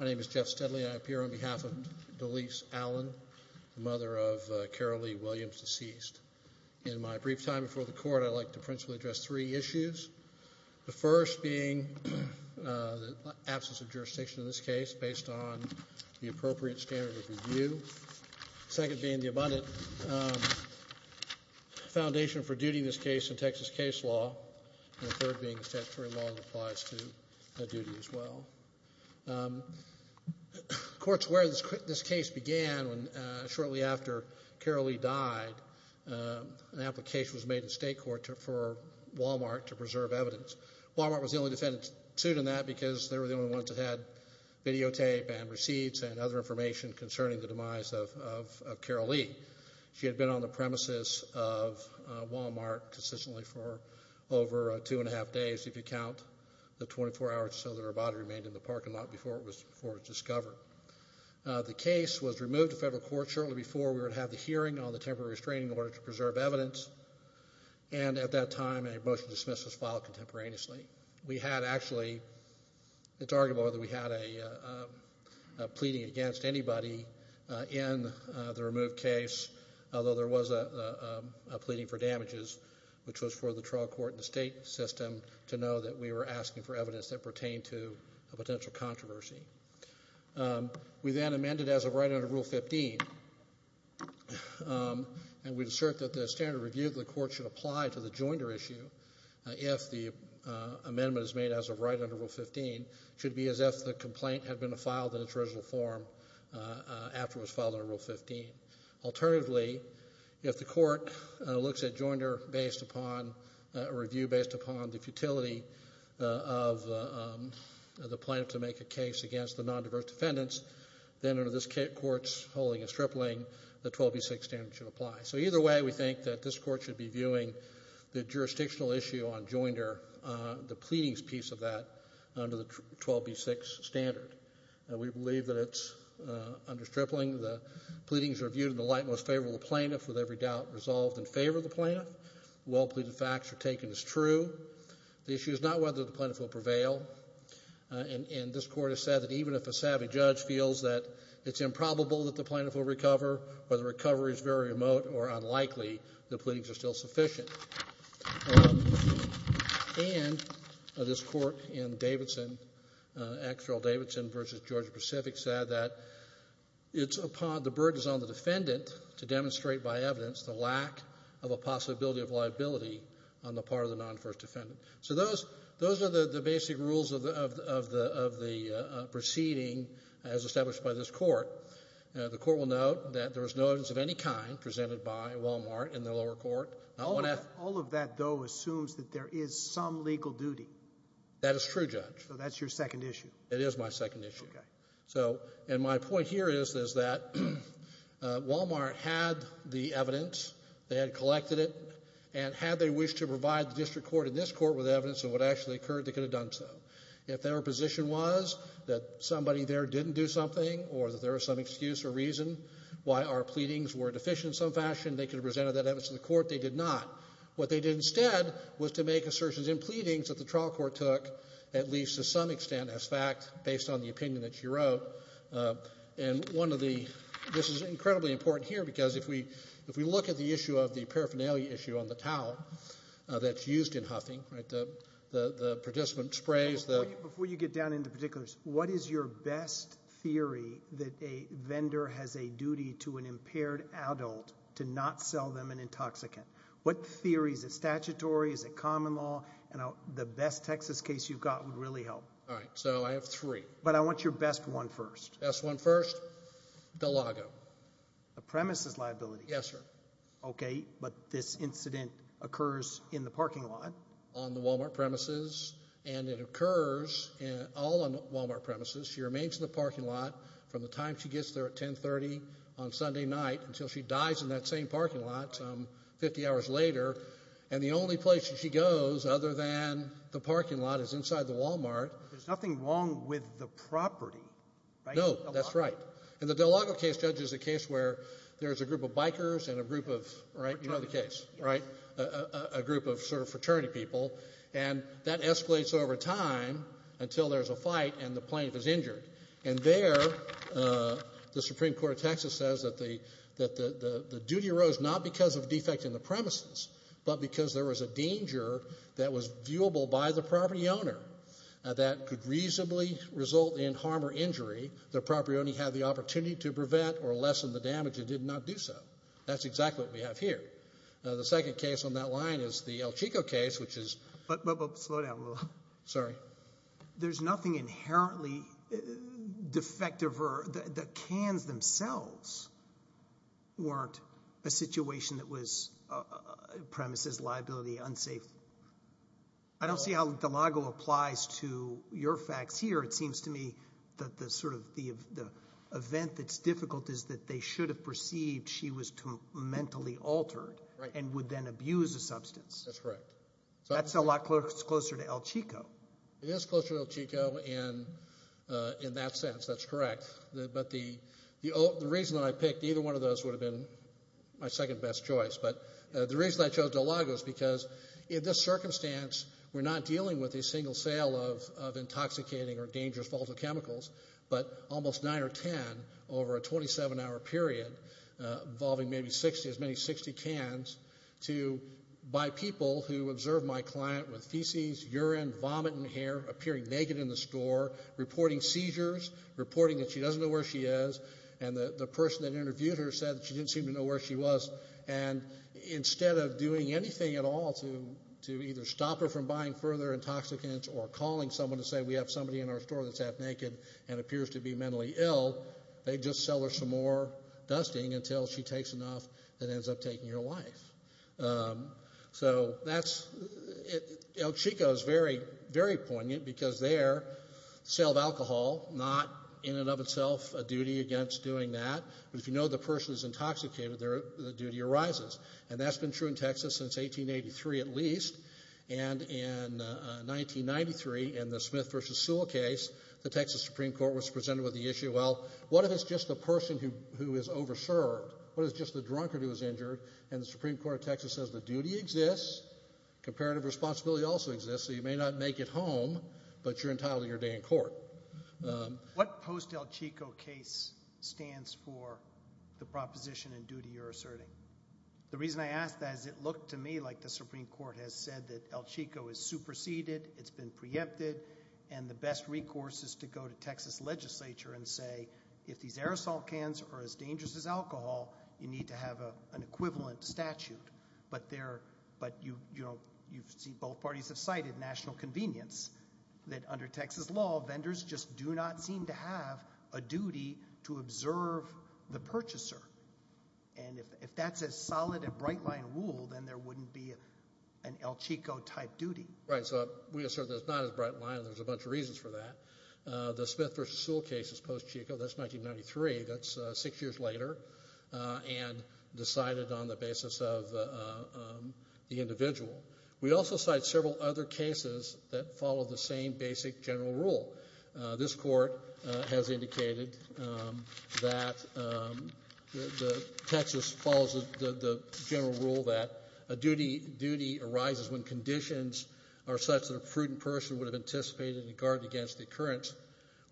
My name is Jeff Steadley, and I appear on behalf of Deleese Allen, the mother of Carolee Williams, deceased. In my brief time before the Court, I'd like to principally address three issues, the first being the absence of jurisdiction in this case, based on the appropriate standard of review. Second being the abundant foundation for duty in this case in Texas case law, and the third being statutory law that applies to duty as well. Courts where this case began, shortly after Carolee died, an application was made in state court for Walmart to preserve evidence. Walmart was the only defendant sued in that because they were the only ones that had videotape and receipts and other information concerning the demise of Carolee. She had been on the premises of Walmart consistently for over two and a half days, if you count the 24 hours or so that her body remained in the parking lot before it was discovered. The case was removed to federal court shortly before we would have the hearing on the temporary restraining order to preserve evidence, and at that time a motion to dismiss was filed contemporaneously. We had actually, it's arguable that we had a pleading against anybody in the removed case, although there was a pleading for damages, which was for the trial court and the state system to know that we were asking for evidence that pertained to a potential controversy. We then amended as of right under Rule 15, and we assert that the standard of review that the court should apply to the Joinder issue, if the amendment is made as of right under Rule 15, should be as if the complaint had been filed in its original form after it was filed under Rule 15. Alternatively, if the court looks at Joinder based upon, a review based upon the futility of the plan to make a case against the nondiverse defendants, then under this court's holding and stripling, the 12B6 standard should apply. So either way, we think that this court should be viewing the jurisdictional issue on Joinder, the pleadings piece of that, under the 12B6 standard. We believe that it's under stripling. The pleadings are viewed in the light most favorable of the plaintiff, with every doubt resolved in favor of the plaintiff, well pleaded facts are taken as true. The issue is not whether the plaintiff will prevail, and this court has said that even if a savvy judge feels that it's improbable that the plaintiff will recover, or the recovery is very remote or unlikely, the pleadings are still sufficient. And this court in Davidson, Axel Davidson v. Georgia Pacific, said that it's upon the burdens on the defendant to demonstrate by evidence the lack of a possibility of liability on the part of the nondiverse defendant. So those are the basic rules of the proceeding as established by this court. The court will note that there is no evidence of any kind presented by Walmart in the lower court. All of that, though, assumes that there is some legal duty. That is true, Judge. So that's your second issue. It is my second issue. And my point here is that Walmart had the evidence, they had collected it, and had they wished to provide the district court in this court with evidence of what actually occurred, they could have done so. If their position was that somebody there didn't do something or that there was some excuse or reason why our pleadings were deficient in some fashion, they could have presented that evidence to the court. They did not. What they did instead was to make assertions in pleadings that the trial court took, at least to some extent as fact, based on the opinion that you wrote. And one of the—this is incredibly important here because if we look at the issue of the paraphernalia issue on the towel that's used in huffing, right, the participant sprays the— Before you get down into particulars, what is your best theory that a vendor has a duty to an impaired adult to not sell them an intoxicant? What theory? Is it statutory? Is it common law? And the best Texas case you've got would really help. All right. So I have three. But I want your best one first. Best one first. DeLago. A premises liability. Yes, sir. Okay. But this incident occurs in the parking lot. On the Walmart premises. And it occurs all on Walmart premises. She remains in the parking lot from the time she gets there at 10.30 on Sunday night until she dies in that same parking lot some 50 hours later. And the only place that she goes, other than the parking lot, is inside the Walmart. There's nothing wrong with the property, right? No, that's right. In the DeLago case, Judge, it's a case where there's a group of bikers and a group of, right, you know the case, right, a group of sort of fraternity people. And that escalates over time until there's a fight and the plaintiff is injured. And there, the Supreme Court of Texas says that the duty arose not because of defect in the premises, but because there was a danger that was viewable by the property owner that could reasonably result in harm or injury the property owner had the opportunity to prevent or lessen the damage and did not do so. That's exactly what we have here. The second case on that line is the El Chico case, which is. But, but, but, slow down a little. Sorry. There's nothing inherently defective or, the, the cans themselves weren't a situation that was premises, liability, unsafe. I don't see how DeLago applies to your facts here. It seems to me that the sort of, the, the event that's difficult is that they should have perceived she was mentally altered and would then abuse a substance. That's right. That's a lot closer to El Chico. It is closer to El Chico in, in that sense. That's correct. But the, the reason that I picked either one of those would have been my second best choice. But the reason I chose DeLago is because in this circumstance, we're not dealing with a single sale of, of intoxicating or dangerous volatile chemicals. But almost nine or ten over a 27-hour period, involving maybe 60, as many as 60 cans, to buy people who observe my client with feces, urine, vomit, and hair, appearing naked in the store, reporting seizures, reporting that she doesn't know where she is, and that the person that interviewed her said that she didn't seem to know where she was. And instead of doing anything at all to, to either stop her from buying further intoxicants or calling someone to say we have somebody in our store that's half naked and appears to be mentally ill, they just sell her some more dusting until she takes enough that ends up taking your life. So that's, it, El Chico is very, very poignant because their sale of alcohol, not in and of itself a duty against doing that, but if you know the person is intoxicated, their, the duty arises. And that's been true in Texas since 1883 at least. And in 1993 in the Smith versus Sewell case, the Texas Supreme Court was presented with the issue, well, what if it's just the person who, who is over-served, what if it's just the drunkard who is injured, and the Supreme Court of Texas says the duty exists, comparative responsibility also exists, so you may not make it home, but you're entitled to your day in court. What post-El Chico case stands for the proposition and duty you're asserting? The reason I ask that is it looked to me like the Supreme Court has said that El Chico is superseded, it's been preempted, and the best recourse is to go to Texas legislature and say if these aerosol cans are as dangerous as alcohol, you need to have a, an equivalent statute. But there, but you, you know, you see both parties have cited national convenience that under Texas law, vendors just do not seem to have a duty to observe the purchaser. And if, if that's a solid and bright-line rule, then there wouldn't be an El Chico-type duty. Right, so we assert that it's not as bright-line, there's a bunch of reasons for that. The Smith v. Sewell case is post-Chico, that's 1993, that's six years later, and decided on the basis of the individual. We also cite several other cases that follow the same basic general rule. This Court has indicated that the, Texas follows the general rule that a duty, duty arises when conditions are such that a prudent person would have anticipated and guarded against the occurrence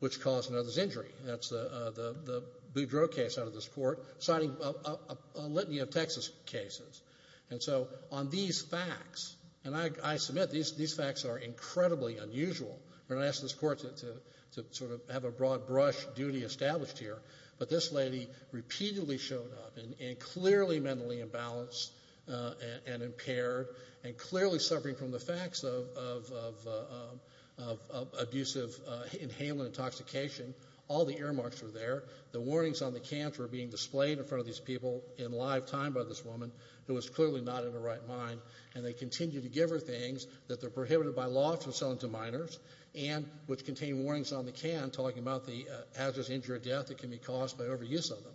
which caused another's injury. That's the, the, the Boudreaux case out of this Court, citing a litany of Texas cases. And so on these facts, and I, I submit these, these facts are incredibly unusual, but I ask this Court to, to sort of have a broad-brush duty established here. But this lady repeatedly showed up, and, and clearly mentally imbalanced, and, and impaired, and clearly suffering from the facts of, of, of, of, of, of abusive inhaling and intoxication. All the earmarks were there. The warnings on the camps were being displayed in front of these people in live time by this woman who was clearly not in her right mind. And they continue to give her things that they're prohibited by law from selling to them, which contain warnings on the camp talking about the hazardous injury or death that can be caused by overuse of them.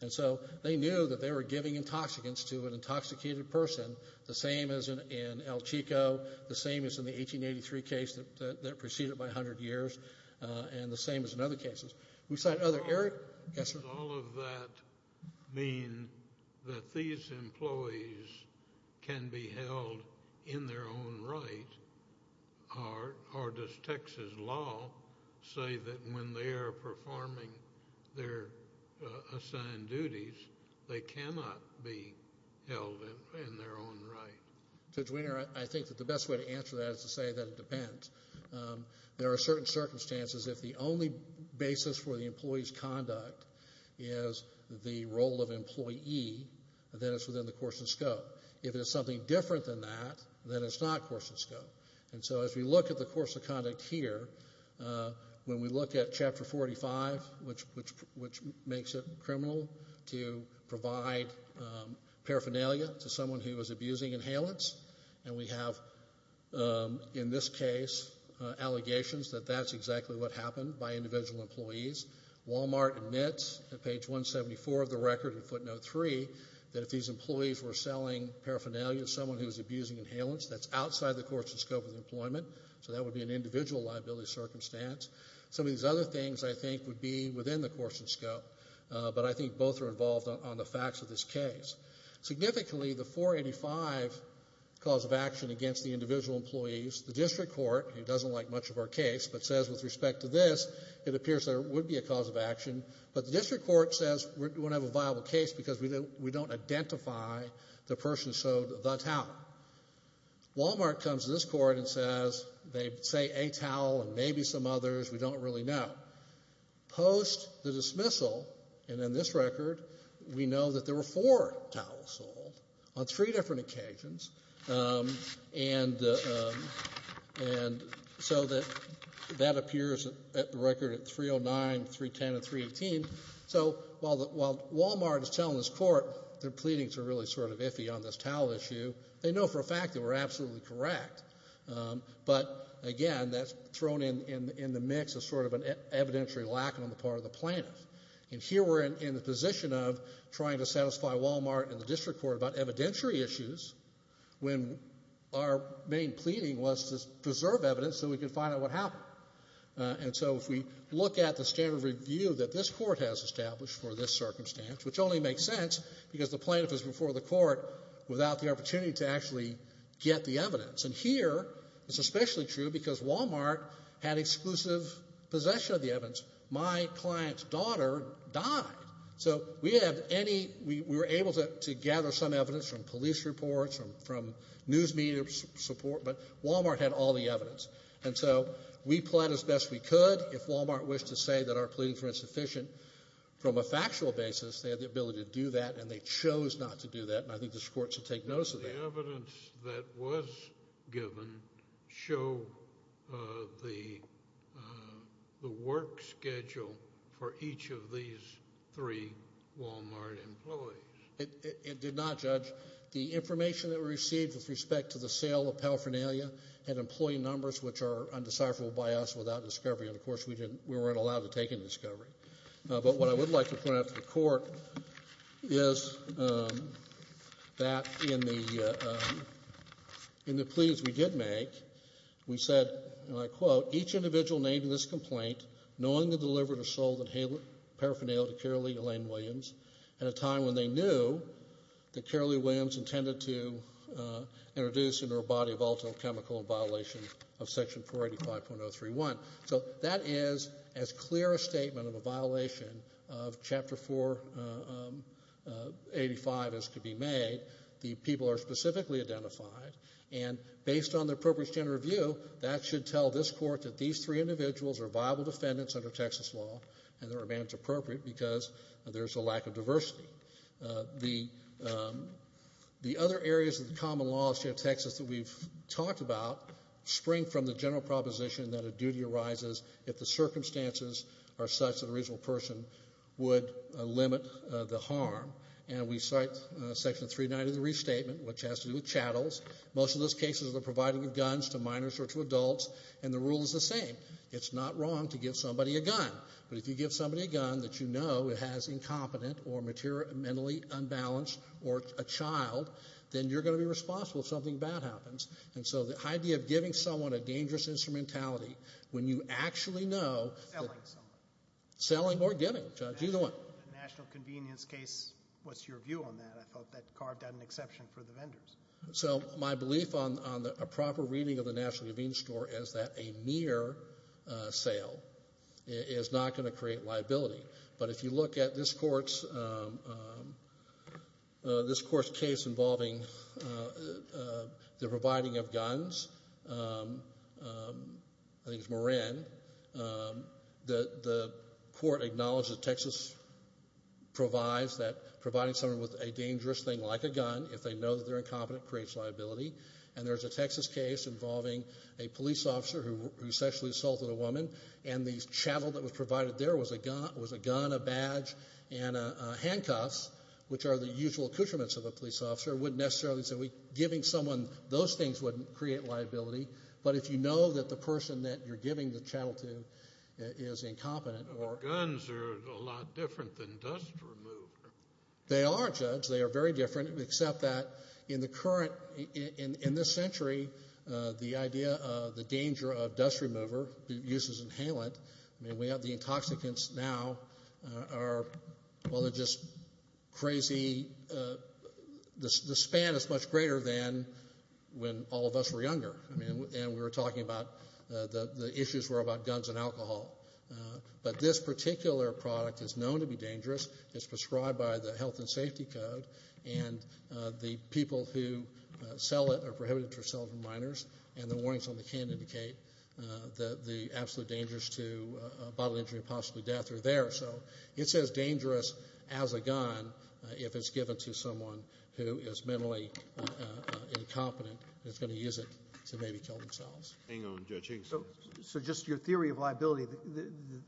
And so they knew that they were giving intoxicants to an intoxicated person, the same as in, in El Chico, the same as in the 1883 case that, that, that proceeded by 100 years, and the same as in other cases. We cite other, Eric? Yes, sir? Does all of that mean that these employees can be held in their own right, or, or does Texas law say that when they are performing their assigned duties, they cannot be held in, in their own right? Judge Wiener, I, I think that the best way to answer that is to say that it depends. There are certain circumstances, if the only basis for the employee's conduct is the role of employee, then it's within the course and scope. If it is something different than that, then it's not course and scope. And so as we look at the course of conduct here, when we look at Chapter 45, which, which, which makes it criminal to provide paraphernalia to someone who is abusing inhalants, and we have, in this case, allegations that that's exactly what happened by individual employees. Walmart admits, at page 174 of the record in footnote 3, that if these employees were selling paraphernalia to someone who was abusing inhalants, that's outside the course and scope of employment, so that would be an individual liability circumstance. Some of these other things, I think, would be within the course and scope, but I think both are involved on, on the facts of this case. Significantly, the 485 cause of action against the individual employees, the district court, who doesn't like much of our case, but says with respect to this, it appears there would be a cause of action, but the district court says we're, we don't have a viable case because we don't, we don't identify the person who sold the towel. Walmart comes to this court and says, they say a towel and maybe some others, we don't really know. Post the dismissal, and in this record, we know that there were four towels sold on three different occasions, and, and so that, that appears at the record at 309, 310, and 318. So while the, while Walmart is telling this court their pleadings are really sort of iffy on this towel issue, they know for a fact that we're absolutely correct. But again, that's thrown in, in, in the mix of sort of an evidentiary lack on the part of the plaintiff. And here we're in, in the position of trying to satisfy Walmart and the district court about evidentiary issues when our main pleading was to preserve evidence so we could find out what happened. And so if we look at the standard review that this court has established for this circumstance, which only makes sense because the plaintiff is before the court without the opportunity to actually get the evidence. And here, it's especially true because Walmart had exclusive possession of the evidence. My client's daughter died. So we have any, we, we were able to, to gather some evidence from police reports, from, from news media support, but Walmart had all the evidence. And so we plied as best we could if Walmart wished to say that our pleadings were insufficient. From a factual basis, they had the ability to do that, and they chose not to do that, and I think this court should take notice of that. Did the evidence that was given show the, the work schedule for each of these three Walmart employees? It, it, it did not, Judge. The information that we received with respect to the sale of paraphernalia had employee numbers which are undecipherable by us without discovery, and of course we didn't, we weren't allowed to take any discovery. But what I would like to point out to the court is that in the, in the pleadings we did make, we said, and I quote, each individual named in this complaint knowingly delivered or sold paraphernalia to Carolee Elaine Williams at a time when they knew that Carolee Williams intended to introduce into her body volatile chemical in violation of section 485.031. So that is as clear a statement of a violation of Chapter 485 as could be made. The people are specifically identified, and based on the appropriate standard of view, that should tell this court that these three individuals are viable defendants under Texas law, and they're managed appropriate because there's a lack of diversity. The, the other areas of the common law of the state of Texas that we've talked about spring from the general proposition that a duty arises if the circumstances are such that a reasonable person would limit the harm. And we cite section 390 of the restatement, which has to do with chattels. Most of those cases are provided with guns to minors or to adults, and the rule is the same. It's not wrong to give somebody a gun, but if you give somebody a gun that you know has incompetent or mentally unbalanced or a child, then you're going to be responsible if something bad happens. And so the idea of giving someone a dangerous instrumentality, when you actually know... Selling someone. Selling or giving. Judge, either one. The national convenience case, what's your view on that? I thought that carved out an exception for the vendors. So my belief on, on the, a proper reading of the national convenience store is that a mere sale is not going to create liability. But if you look at this court's case involving the providing of guns, I think it's Moran, the court acknowledged that Texas provides that providing someone with a dangerous thing like a gun, if they know that they're incompetent, creates liability. And there's a Texas case involving a police officer who sexually assaulted a woman, and the chattel that was provided there was a gun, a badge, and handcuffs, which are the usual accoutrements of a police officer, wouldn't necessarily, so giving someone those things wouldn't create liability. But if you know that the person that you're giving the chattel to is incompetent or... The guns are a lot different than dust remover. They are, Judge. They are very different, except that in the current, in this century, the idea, the danger of dust remover uses inhalant, I mean, we have the intoxicants now are, well, they're just crazy, the span is much greater than when all of us were younger, I mean, and we were talking about the issues were about guns and alcohol. But this particular product is known to be dangerous, it's prescribed by the health and safety code, and the people who sell it are prohibited to sell to minors, and the warnings on the can indicate that the absolute dangers to bodily injury and possibly death are there, so it's as dangerous as a gun if it's given to someone who is mentally incompetent that's going to use it to maybe kill themselves. Hang on, Judge Higgins. So just your theory of liability,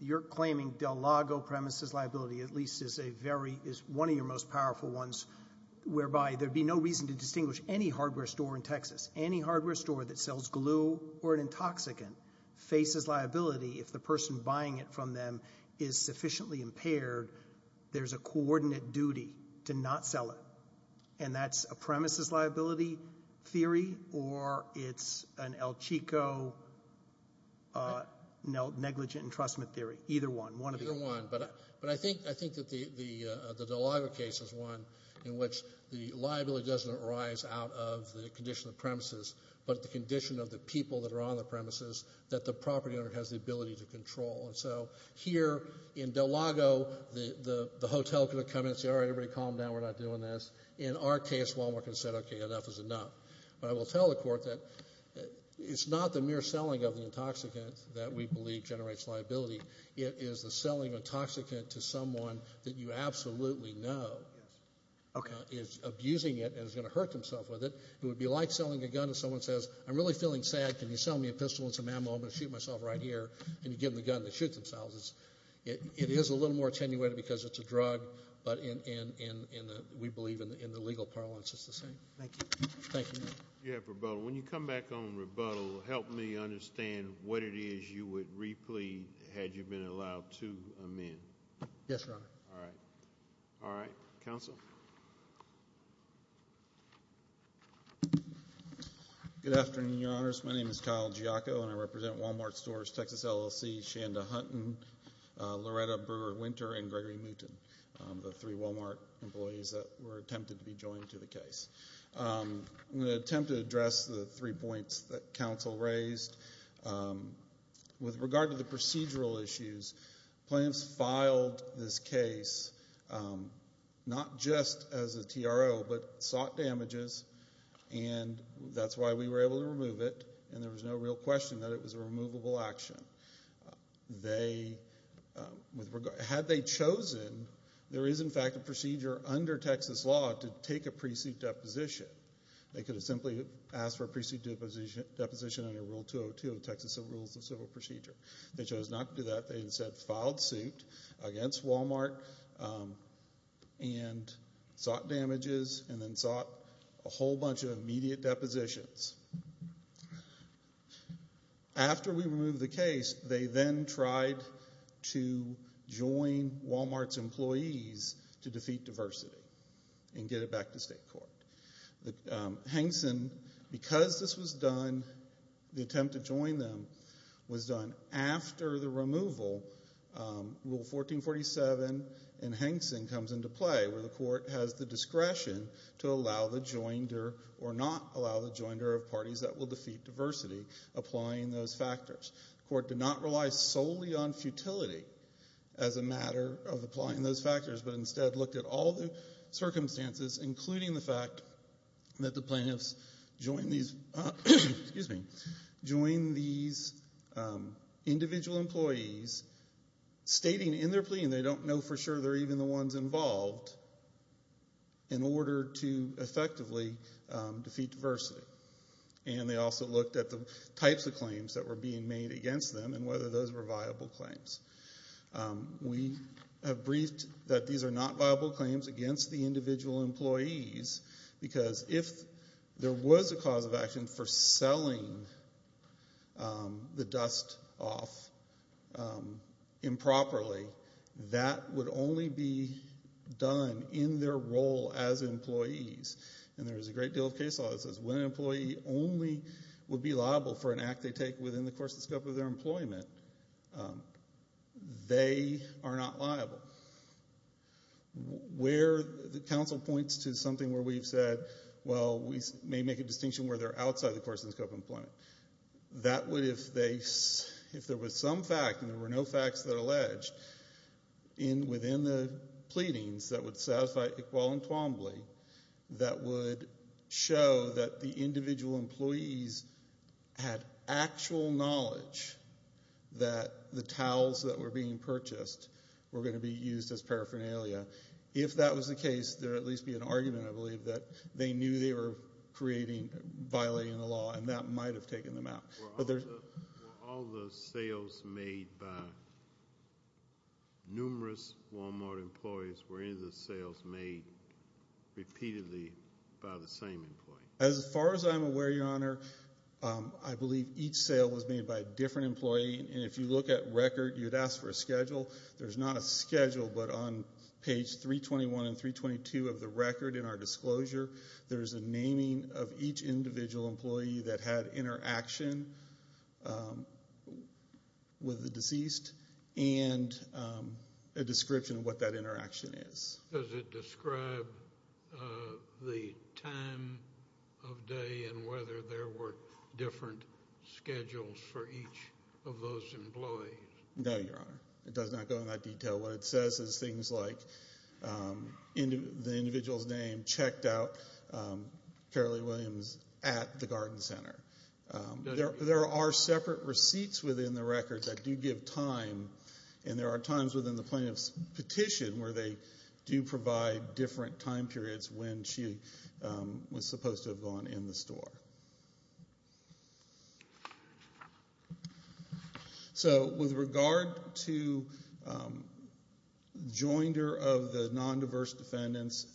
you're claiming Del Lago premises liability at least is a very, is one of your most powerful ones, whereby there'd be no reason to distinguish any hardware store in Texas, any hardware store that sells glue or an intoxicant faces liability if the person buying it from them is sufficiently impaired, there's a coordinate duty to not sell it, and that's a premises liability theory, or it's an El Chico negligent entrustment theory, either one, one of the two. Either one, but I think that the Del Lago case is one in which the liability doesn't arise out of the condition of the premises, but the condition of the people that are on the premises that the property owner has the ability to control, and so here in Del Lago, the hotel could have come in and said, all right, everybody calm down, we're not doing this. In our case, Walmart could have said, okay, enough is enough, but I will tell the court that it's not the mere selling of the intoxicant that we believe generates liability, it is the selling of the intoxicant to someone that you absolutely know is abusing it and is going to hurt himself with it. It would be like selling a gun if someone says, I'm really feeling sad, can you sell me a pistol and some ammo, I'm going to shoot myself right here, and you give them the gun to shoot themselves. It is a little more attenuated because it's a drug, but we believe in the legal parlance it's the same. Thank you. Thank you. You have rebuttal. When you come back on rebuttal, help me understand what it is you would replead had you been allowed to amend. Yes, Your Honor. All right. All right. Counsel? Good afternoon, Your Honors. My name is Kyle Giacco, and I represent Wal-Mart stores, Texas LLC, Shanda Hunton, Loretta Brewer Winter, and Gregory Mouton, the three Wal-Mart employees that were attempted to be joined to the case. I'm going to attempt to address the three points that counsel raised. First, with regard to the procedural issues, plaintiffs filed this case not just as a TRO, but sought damages, and that's why we were able to remove it, and there was no real question that it was a removable action. Had they chosen, there is, in fact, a procedure under Texas law to take a pre-suit deposition. They could have simply asked for a pre-suit deposition under Rule 202 of Texas Civil Procedure. They chose not to do that. They instead filed suit against Wal-Mart and sought damages, and then sought a whole bunch of immediate depositions. After we removed the case, they then tried to join Wal-Mart's employees to defeat diversity and get it back to state court. Because this was done, the attempt to join them was done after the removal, Rule 1447 in Hankson comes into play, where the court has the discretion to allow the joinder or not allow the joinder of parties that will defeat diversity, applying those factors. The court did not rely solely on futility as a matter of applying those factors, but instead looked at all the circumstances, including the fact that the plaintiffs joined these individual employees, stating in their plea, and they don't know for sure they're even the ones involved, in order to effectively defeat diversity. They also looked at the types of claims that were being made against them and whether those were viable claims. We have briefed that these are not viable claims against the individual employees, because if there was a cause of action for selling the dust off improperly, that would only be done in their role as employees. And there is a great deal of case law that says when an employee only would be liable for an act they take within the course and scope of their employment, they are not liable. Where the counsel points to something where we've said, well, we may make a distinction where they're outside the course and scope of employment, that would, if there was some fact and there were no facts that are alleged within the pleadings that would satisfy Iqbal and Twombly, that would show that the individual employees had actual knowledge that the towels that were being purchased were going to be used as paraphernalia. If that was the case, there would at least be an argument, I believe, that they knew they were violating the law, and that might have taken them out. Were all the sales made by numerous Walmart employees, were any of the sales made repeatedly by the same employee? As far as I'm aware, Your Honor, I believe each sale was made by a different employee, and if you look at record, you'd ask for a schedule. There's not a schedule, but on page 321 and 322 of the record in our disclosure, there is a naming of each individual employee that had interaction with the deceased and a description of what that interaction is. Does it describe the time of day and whether there were different schedules for each of those employees? No, Your Honor. It does not go into that detail. What it says is things like the individual's name checked out, Carolee Williams, at the garden center. There are separate receipts within the record that do give time, and there are times within the plaintiff's petition where they do provide different time periods when she was supposed to have gone in the store. So, with regard to joinder of the non-diverse defendants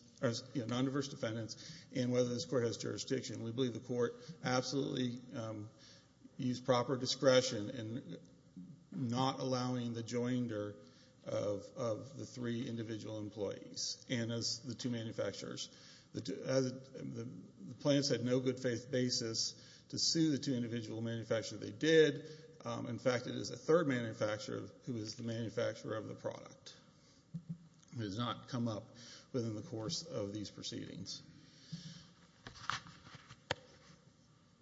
and whether this court has jurisdiction, we believe the court absolutely used proper discretion in not allowing the joinder of the three individual employees and the two manufacturers. The plaintiffs had no good faith basis to sue the two individual manufacturers. They did. In fact, it is the third manufacturer who is the manufacturer of the product. It has not come up within the course of these proceedings.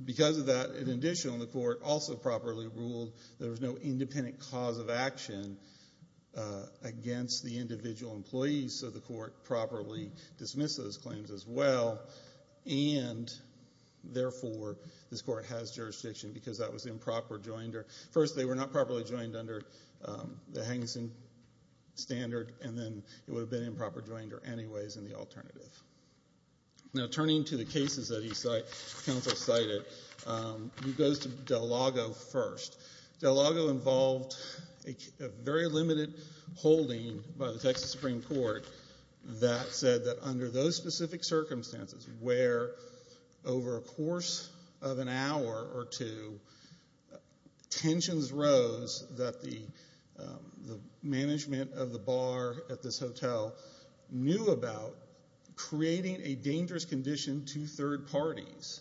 Because of that, in addition, the court also properly ruled there was no independent cause of action against the individual employees, so the court properly dismissed those claims as well, and therefore, this court has jurisdiction because that was improper joinder. First, they were not properly joined under the Hengson standard, and then it would have been improper joinder anyways in the alternative. Now, turning to the cases that the counsel cited, he goes to Del Lago first. Del Lago involved a very limited holding by the Texas Supreme Court that said that under those specific circumstances where over a course of an hour or two, tensions rose that the management of the bar at this hotel knew about creating a dangerous condition to third parties.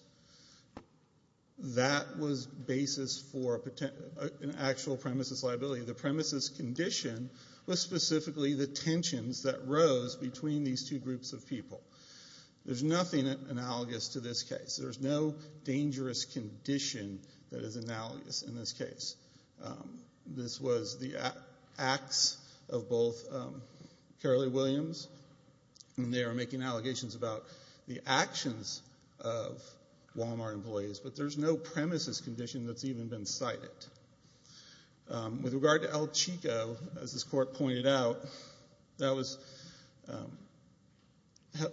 That was basis for an actual premises liability. The premises condition was specifically the tensions that rose between these two groups of people. There is nothing analogous to this case. There is no dangerous condition that is analogous in this case. This was the acts of both Carolee Williams, and they are making allegations about the Walmart employees, but there is no premises condition that has even been cited. With regard to El Chico, as this court pointed out, that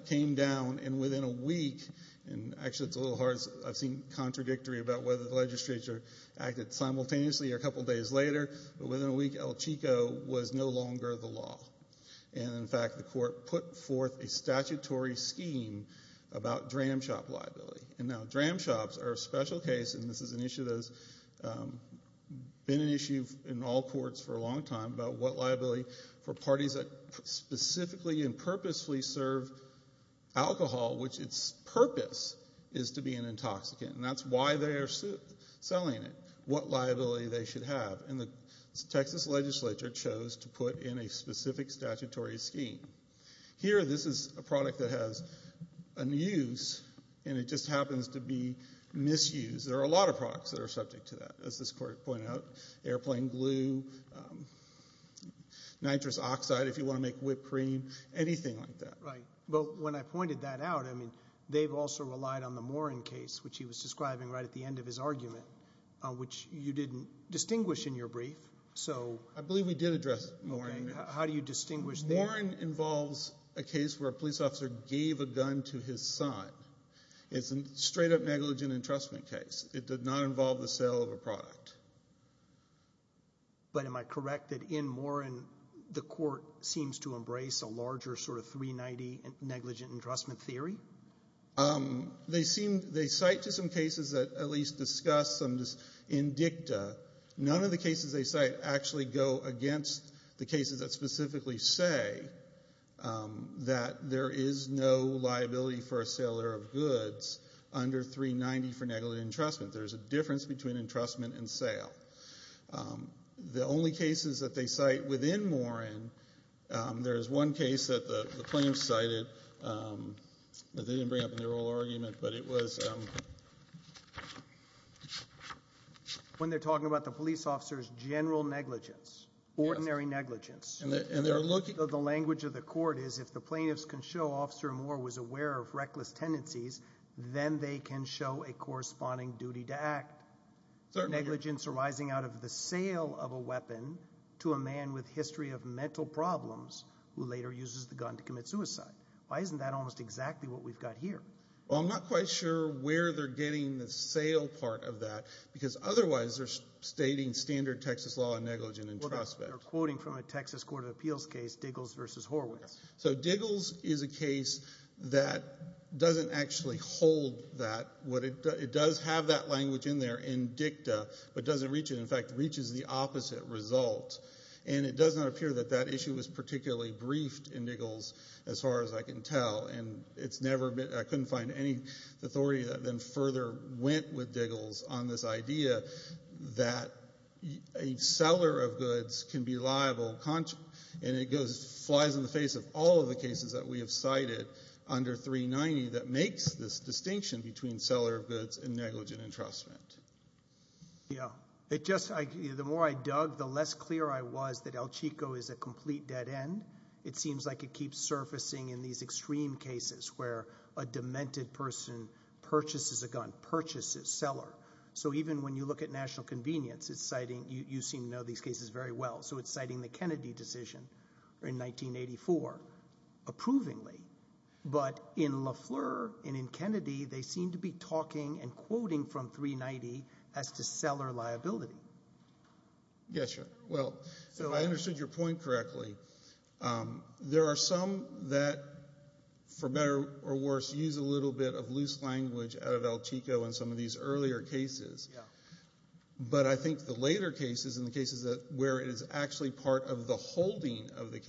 came down, and within a week, and actually it is a little hard. I have seen contradictory about whether the legislature acted simultaneously or a couple days later, but within a week, El Chico was no longer the law, and in fact, the court put forth a statutory scheme about dram shop liability, and now dram shops are a special case, and this is an issue that has been an issue in all courts for a long time about what liability for parties that specifically and purposefully serve alcohol, which its purpose is to be an intoxicant, and that is why they are selling it, what liability they should have. The Texas legislature chose to put in a specific statutory scheme. Here, this is a product that has an use, and it just happens to be misused. There are a lot of products that are subject to that, as this court pointed out, airplane glue, nitrous oxide, if you want to make whipped cream, anything like that. When I pointed that out, they have also relied on the Morin case, which he was describing right at the end of his argument, which you didn't distinguish in your brief. I believe we did address Morin. How do you distinguish there? Morin involves a case where a police officer gave a gun to his son. It's a straight up negligent entrustment case. It did not involve the sale of a product. But am I correct that in Morin, the court seems to embrace a larger sort of 390 negligent entrustment theory? They cite to some cases that at least discuss some indicta. None of the cases they cite actually go against the cases that specifically say that there is no liability for a seller of goods under 390 for negligent entrustment. There's a difference between entrustment and sale. The only cases that they cite within Morin, there is one case that the plaintiffs cited, that they didn't bring up in their oral argument, but it was... When they're talking about the police officer's general negligence, ordinary negligence. The language of the court is if the plaintiffs can show Officer Morin was aware of reckless tendencies, then they can show a corresponding duty to act. Negligence arising out of the sale of a weapon to a man with history of mental problems who later uses the gun to commit suicide. Why isn't that almost exactly what we've got here? Well, I'm not quite sure where they're getting the sale part of that, because otherwise they're stating standard Texas law on negligent entrustment. Well, they're quoting from a Texas Court of Appeals case, Diggles v. Horwitz. So Diggles is a case that doesn't actually hold that. It does have that language in there, in dicta, but doesn't reach it. In fact, it reaches the opposite result, and it does not appear that that issue was particularly briefed in Diggles, as far as I can tell, and I couldn't find any authority that then further went with Diggles on this idea that a seller of goods can be liable, and it flies in the face of all of the cases that we have cited under 390 that makes this distinction between seller of goods and negligent entrustment. Yeah. It just, the more I dug, the less clear I was that El Chico is a complete dead end. It seems like it keeps surfacing in these extreme cases where a demented person purchases a gun, purchases, seller. So even when you look at national convenience, it's citing, you seem to know these cases very well, so it's citing the Kennedy decision in 1984, approvingly. But in Lafleur and in Kennedy, they seem to be talking and quoting from 390 as to seller liability. Yeah, sure. Well, if I understood your point correctly, there are some that, for better or worse, use a little bit of loose language out of El Chico in some of these earlier cases, but I think the later cases and the cases where it is actually part of the holding of the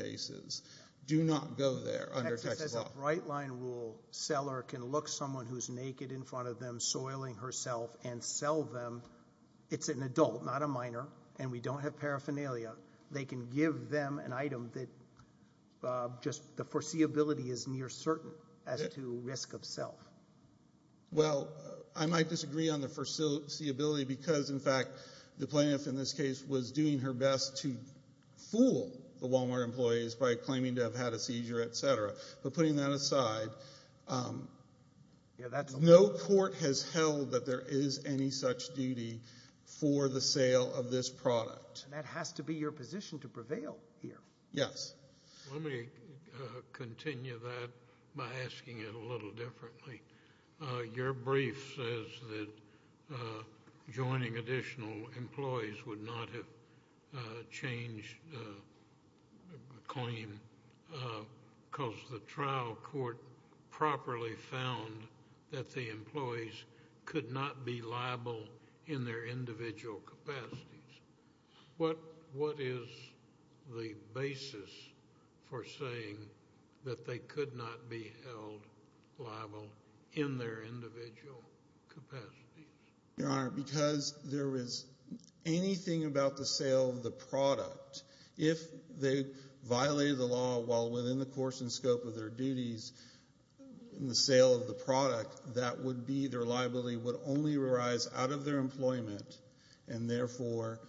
right-line rule, seller can look someone who's naked in front of them, soiling herself, and sell them. It's an adult, not a minor, and we don't have paraphernalia. They can give them an item that just the foreseeability is near certain as to risk of self. Well, I might disagree on the foreseeability because, in fact, the plaintiff in this case was doing her best to fool the Walmart employees by claiming to have had a seizure, et cetera. But putting that aside, no court has held that there is any such duty for the sale of this product. And that has to be your position to prevail here. Yes. Let me continue that by asking it a little differently. Your brief says that joining additional employees would not have changed the claim because the trial court properly found that the employees could not be liable in their individual capacities. What is the basis for saying that they could not be held liable in their individual capacities? Your Honor, because there is anything about the sale of the product, if they violated the law while within the course and scope of their duties in the sale of the product, that would be their liability would only arise out of their employment and, therefore,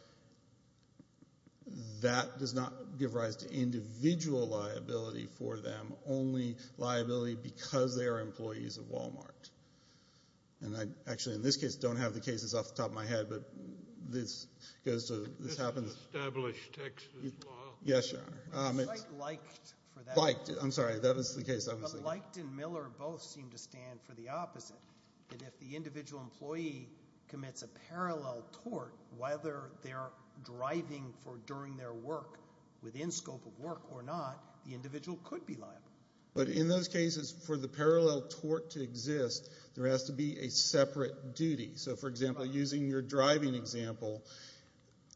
that does not give rise to individual liability for them, only liability because they are employees of Walmart. And I actually in this case don't have the cases off the top of my head, but this goes to this happens. This is an established Texas law. Yes, Your Honor. It's like Lycht for that. Lycht. I'm sorry. That was the case, obviously. Lycht and Miller both seem to stand for the opposite, that if the individual employee commits a parallel tort, whether they are driving during their work within scope of work or not, the individual could be liable. But in those cases, for the parallel tort to exist, there has to be a separate duty. So for example, using your driving example,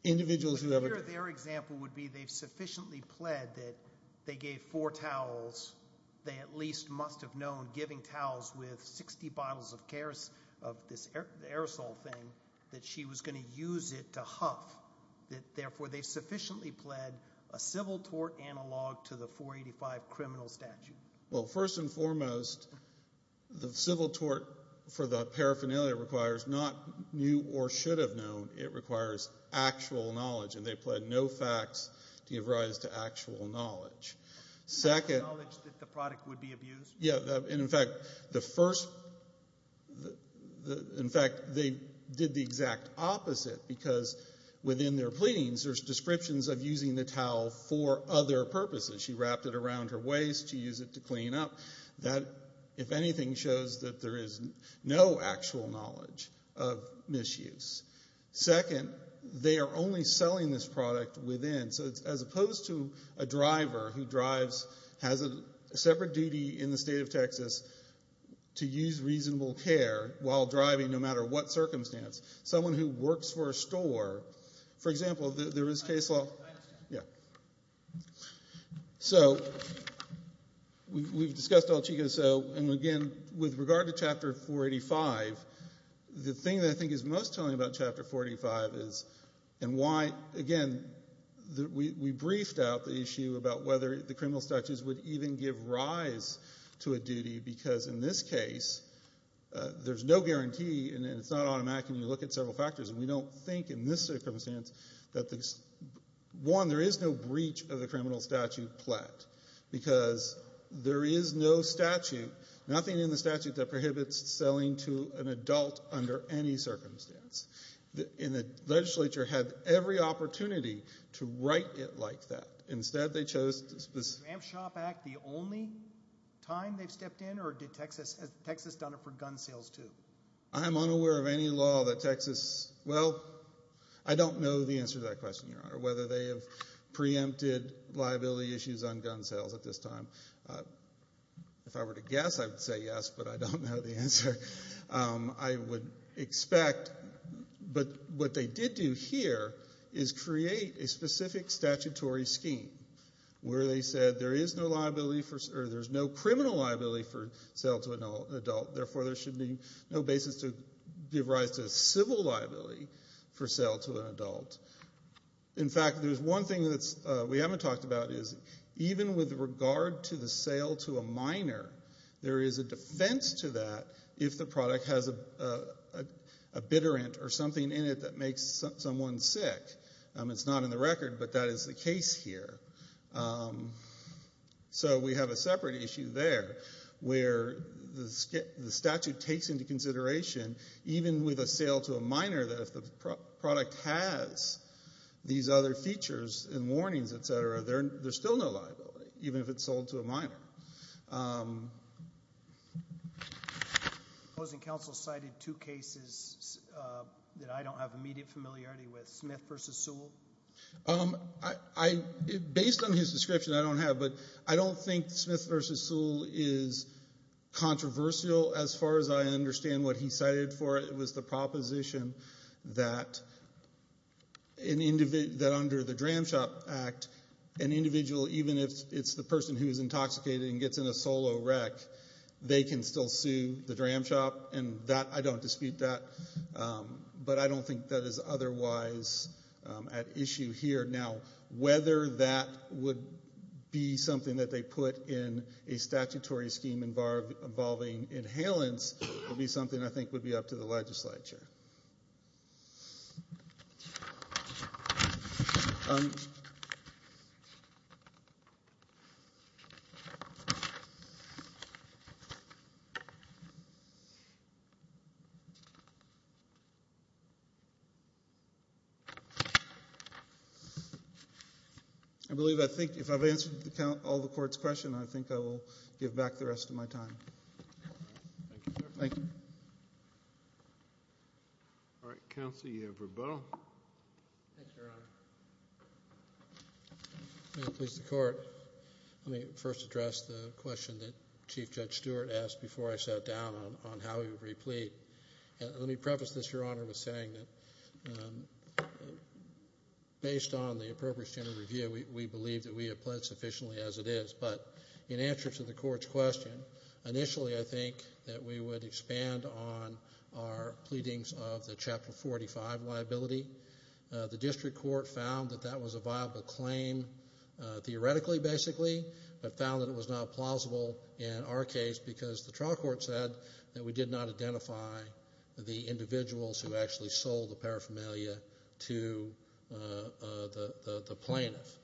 individuals who have a their example would be they've sufficiently pled that they gave four towels, they at least must have known giving towels with 60 bottles of this aerosol thing that she was going to use it to huff, that, therefore, they sufficiently pled a civil tort analog to the 485 criminal statute. Well, first and foremost, the civil tort for the paraphernalia requires not new or should have known. It requires actual knowledge, and they pled no facts to give rise to actual knowledge. Second... The knowledge that the product would be abused? Yeah. And, in fact, the first, in fact, they did the exact opposite, because within their pleadings, there's descriptions of using the towel for other purposes. She wrapped it around her waist, she used it to clean up. That, if anything, shows that there is no actual knowledge of misuse. Second, they are only selling this product within, so as opposed to a driver who drives, has a separate duty in the state of Texas to use reasonable care while driving, no matter what circumstance, someone who works for a store... For example, there is case law... So, we've discussed El Chico, and again, with regard to Chapter 485, the thing that I think is most telling about Chapter 485 is, and why, again, we briefed out the issue about whether the criminal statutes would even give rise to a duty, because in this case, there's no guarantee, and it's not automatic, and you look at several factors, and we don't think in this circumstance that, one, there is no breach of the criminal statute plat, because there is no statute, nothing in the statute that prohibits selling to an adult under any circumstance, and the legislature had every opportunity to write it like that. Instead, they chose... Is the Ram Shop Act the only time they've stepped in, or has Texas done it for gun sales, too? I'm unaware of any law that Texas... Well, I don't know the answer to that question, Your Honor, whether they have preempted liability issues on gun sales at this time. If I were to guess, I would say yes, but I don't know the answer. I would expect... But what they did do here is create a specific statutory scheme, where they said there is no liability for... No basis to give rise to civil liability for sale to an adult. In fact, there's one thing that we haven't talked about, is even with regard to the sale to a minor, there is a defense to that if the product has a bitterant or something in it that makes someone sick. It's not in the record, but that is the case here. So, we have a separate issue there, where the statute takes into consideration, even with a sale to a minor, that if the product has these other features and warnings, etc., there's still no liability, even if it's sold to a minor. The opposing counsel cited two cases that I don't have immediate familiarity with, Smith v. Sewell. Based on his description, I don't have, but I don't think Smith v. Sewell is controversial as far as I understand what he cited for it. It was the proposition that under the Dram Shop Act, an individual, even if it's the person who is intoxicated and gets in a solo wreck, they can still sue the Dram Shop. I don't dispute that. But I don't think that is otherwise at issue here. Now, whether that would be something that they put in a statutory scheme involving inhalants would be something I think would be up to the legislature. I believe, I think, if I've answered all the Court's questions, I think I will give back the rest of my time. Thank you, sir. Thank you. All right. Counsel, you have rebuttal. Thanks, Your Honor. May it please the Court, let me first address the question that Chief Judge Stewart asked before I sat down on how he would replete. Let me preface this, Your Honor, with saying that based on the appropriate standard review, we believe that we have pled sufficiently as it is. But in answer to the Court's question, initially I think that we would expand on our pleadings of the Chapter 45 liability. The District Court found that that was a viable claim theoretically, basically, but found that it was not plausible in our case because the trial court said that we did not identify the individuals who actually sold the paraphernalia to the plaintiff.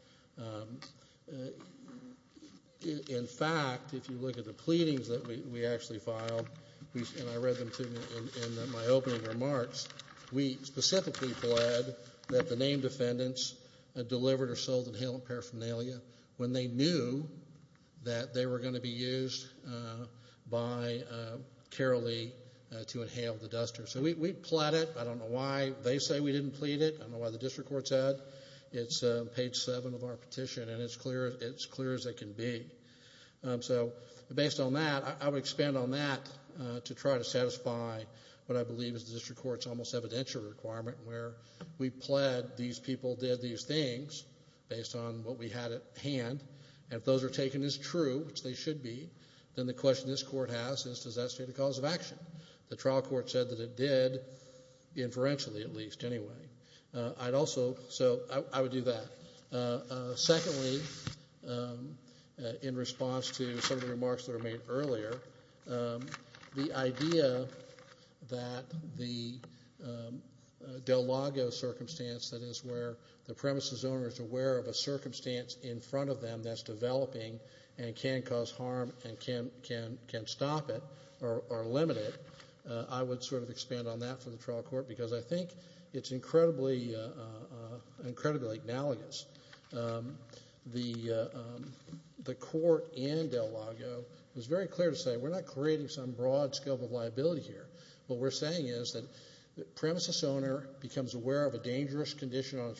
In fact, if you look at the pleadings that we actually filed, and I read them in my opening remarks, we specifically pled that the named defendants delivered or sold inhalant paraphernalia when they knew that they were going to be used by Carol Lee to inhale the duster. So we pled it. I don't know why they say we didn't plead it. I don't know why the District Court said. It's page 7 of our petition, and it's clear as it can be. So based on that, I would expand on that to try to satisfy what I believe is the District Court's almost evidential requirement where we pled these people did these things based on what we had at hand, and if those are taken as true, which they should be, then the question this Court has is does that state a cause of action? The trial court said that it did, inferentially at least, anyway. So I would do that. Secondly, in response to some of the remarks that were made earlier, the idea that the in front of them that's developing and can cause harm and can stop it or limit it, I would sort of expand on that for the trial court, because I think it's incredibly analogous. The court in Del Lago was very clear to say we're not creating some broad scope of liability here. What we're saying is that the premises owner becomes aware of a dangerous condition on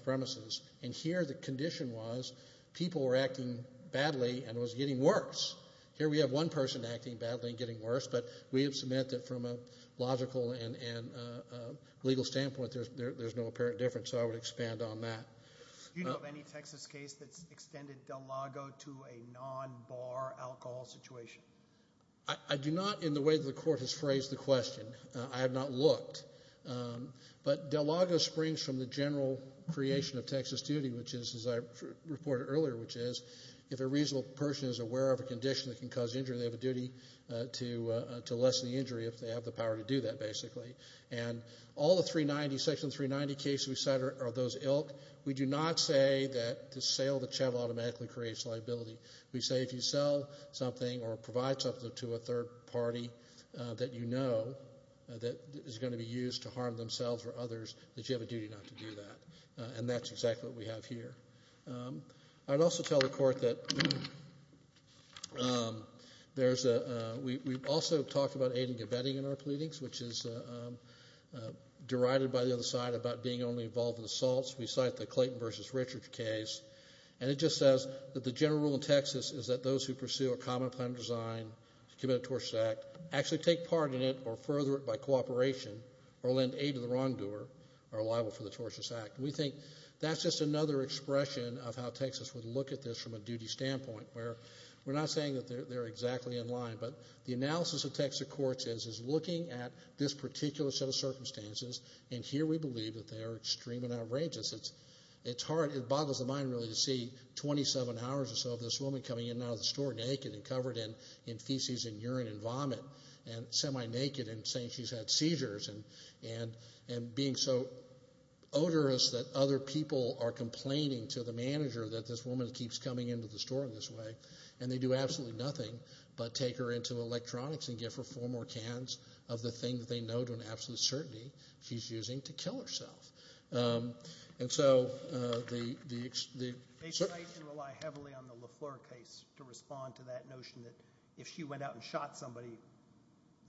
were acting badly and was getting worse. Here we have one person acting badly and getting worse, but we have cemented from a logical and legal standpoint there's no apparent difference, so I would expand on that. Do you know of any Texas case that's extended Del Lago to a non-bar alcohol situation? I do not in the way the Court has phrased the question. I have not looked. But Del Lago springs from the general creation of Texas duty, which is, as I reported earlier, which is if a reasonable person is aware of a condition that can cause injury, they have a duty to lessen the injury if they have the power to do that, basically. And all the section 390 cases we cite are those ilk. We do not say that the sale of the chattel automatically creates liability. We say if you sell something or provide something to a third party that you know that is going to be used to harm themselves or others, that you have a duty not to do that. And that's exactly what we have here. I'd also tell the Court that we also talked about aiding and abetting in our pleadings, which is derided by the other side about being only involved in assaults. We cite the Clayton v. Richards case, and it just says that the general rule in Texas is that those who pursue a common plan design to commit a tortious act actually take part in it or further it by cooperation or lend aid to the wrongdoer are liable for the tortious act. And we think that's just another expression of how Texas would look at this from a duty standpoint where we're not saying that they're exactly in line, but the analysis of Texas courts is looking at this particular set of circumstances, and here we believe that they are extreme and outrageous. It's hard. It boggles the mind really to see 27 hours or so of this woman coming in and out of the had seizures and being so odorous that other people are complaining to the manager that this woman keeps coming into the store in this way, and they do absolutely nothing but take her into electronics and give her four more cans of the thing that they know to an absolute certainty she's using to kill herself. And so the... They rely heavily on the LaFleur case to respond to that notion that if she went out and shot somebody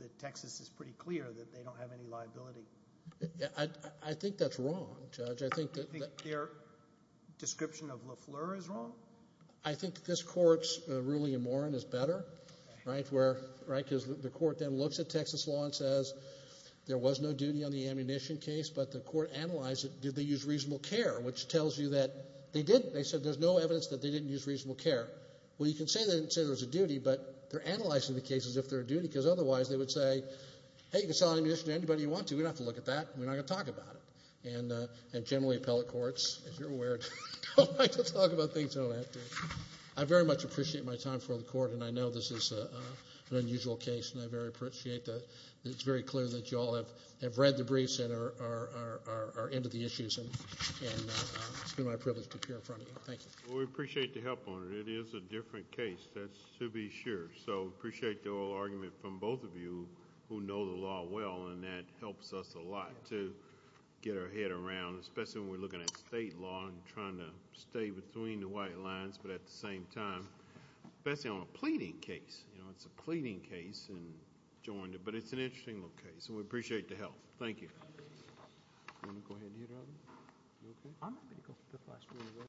that Texas is pretty clear that they don't have any liability. I think that's wrong, Judge. I think that... Do you think their description of LaFleur is wrong? I think this Court's ruling in Morin is better, right, where, right, because the Court then looks at Texas law and says there was no duty on the ammunition case, but the Court analyzed it. Did they use reasonable care? Which tells you that they didn't. They said there's no evidence that they didn't use reasonable care. Well, you can say they didn't say there was a duty, but they're analyzing the case as if there's a duty, because otherwise they would say, hey, you can sell any ammunition to anybody you want to. We don't have to look at that. We're not going to talk about it. And generally appellate courts, as you're aware, don't like to talk about things they don't have to. I very much appreciate my time for the Court, and I know this is an unusual case, and I very appreciate that it's very clear that you all have read the briefs and are into the issues. And it's been my privilege to appear in front of you. Thank you. Well, we appreciate the help on it. It is a different case, that's to be sure. So I appreciate the oral argument from both of you, who know the law well, and that helps us a lot to get our head around, especially when we're looking at state law and trying to stay between the white lines, but at the same time, especially on a pleading case. You know, it's a pleading case, but it's an interesting little case, and we appreciate the help.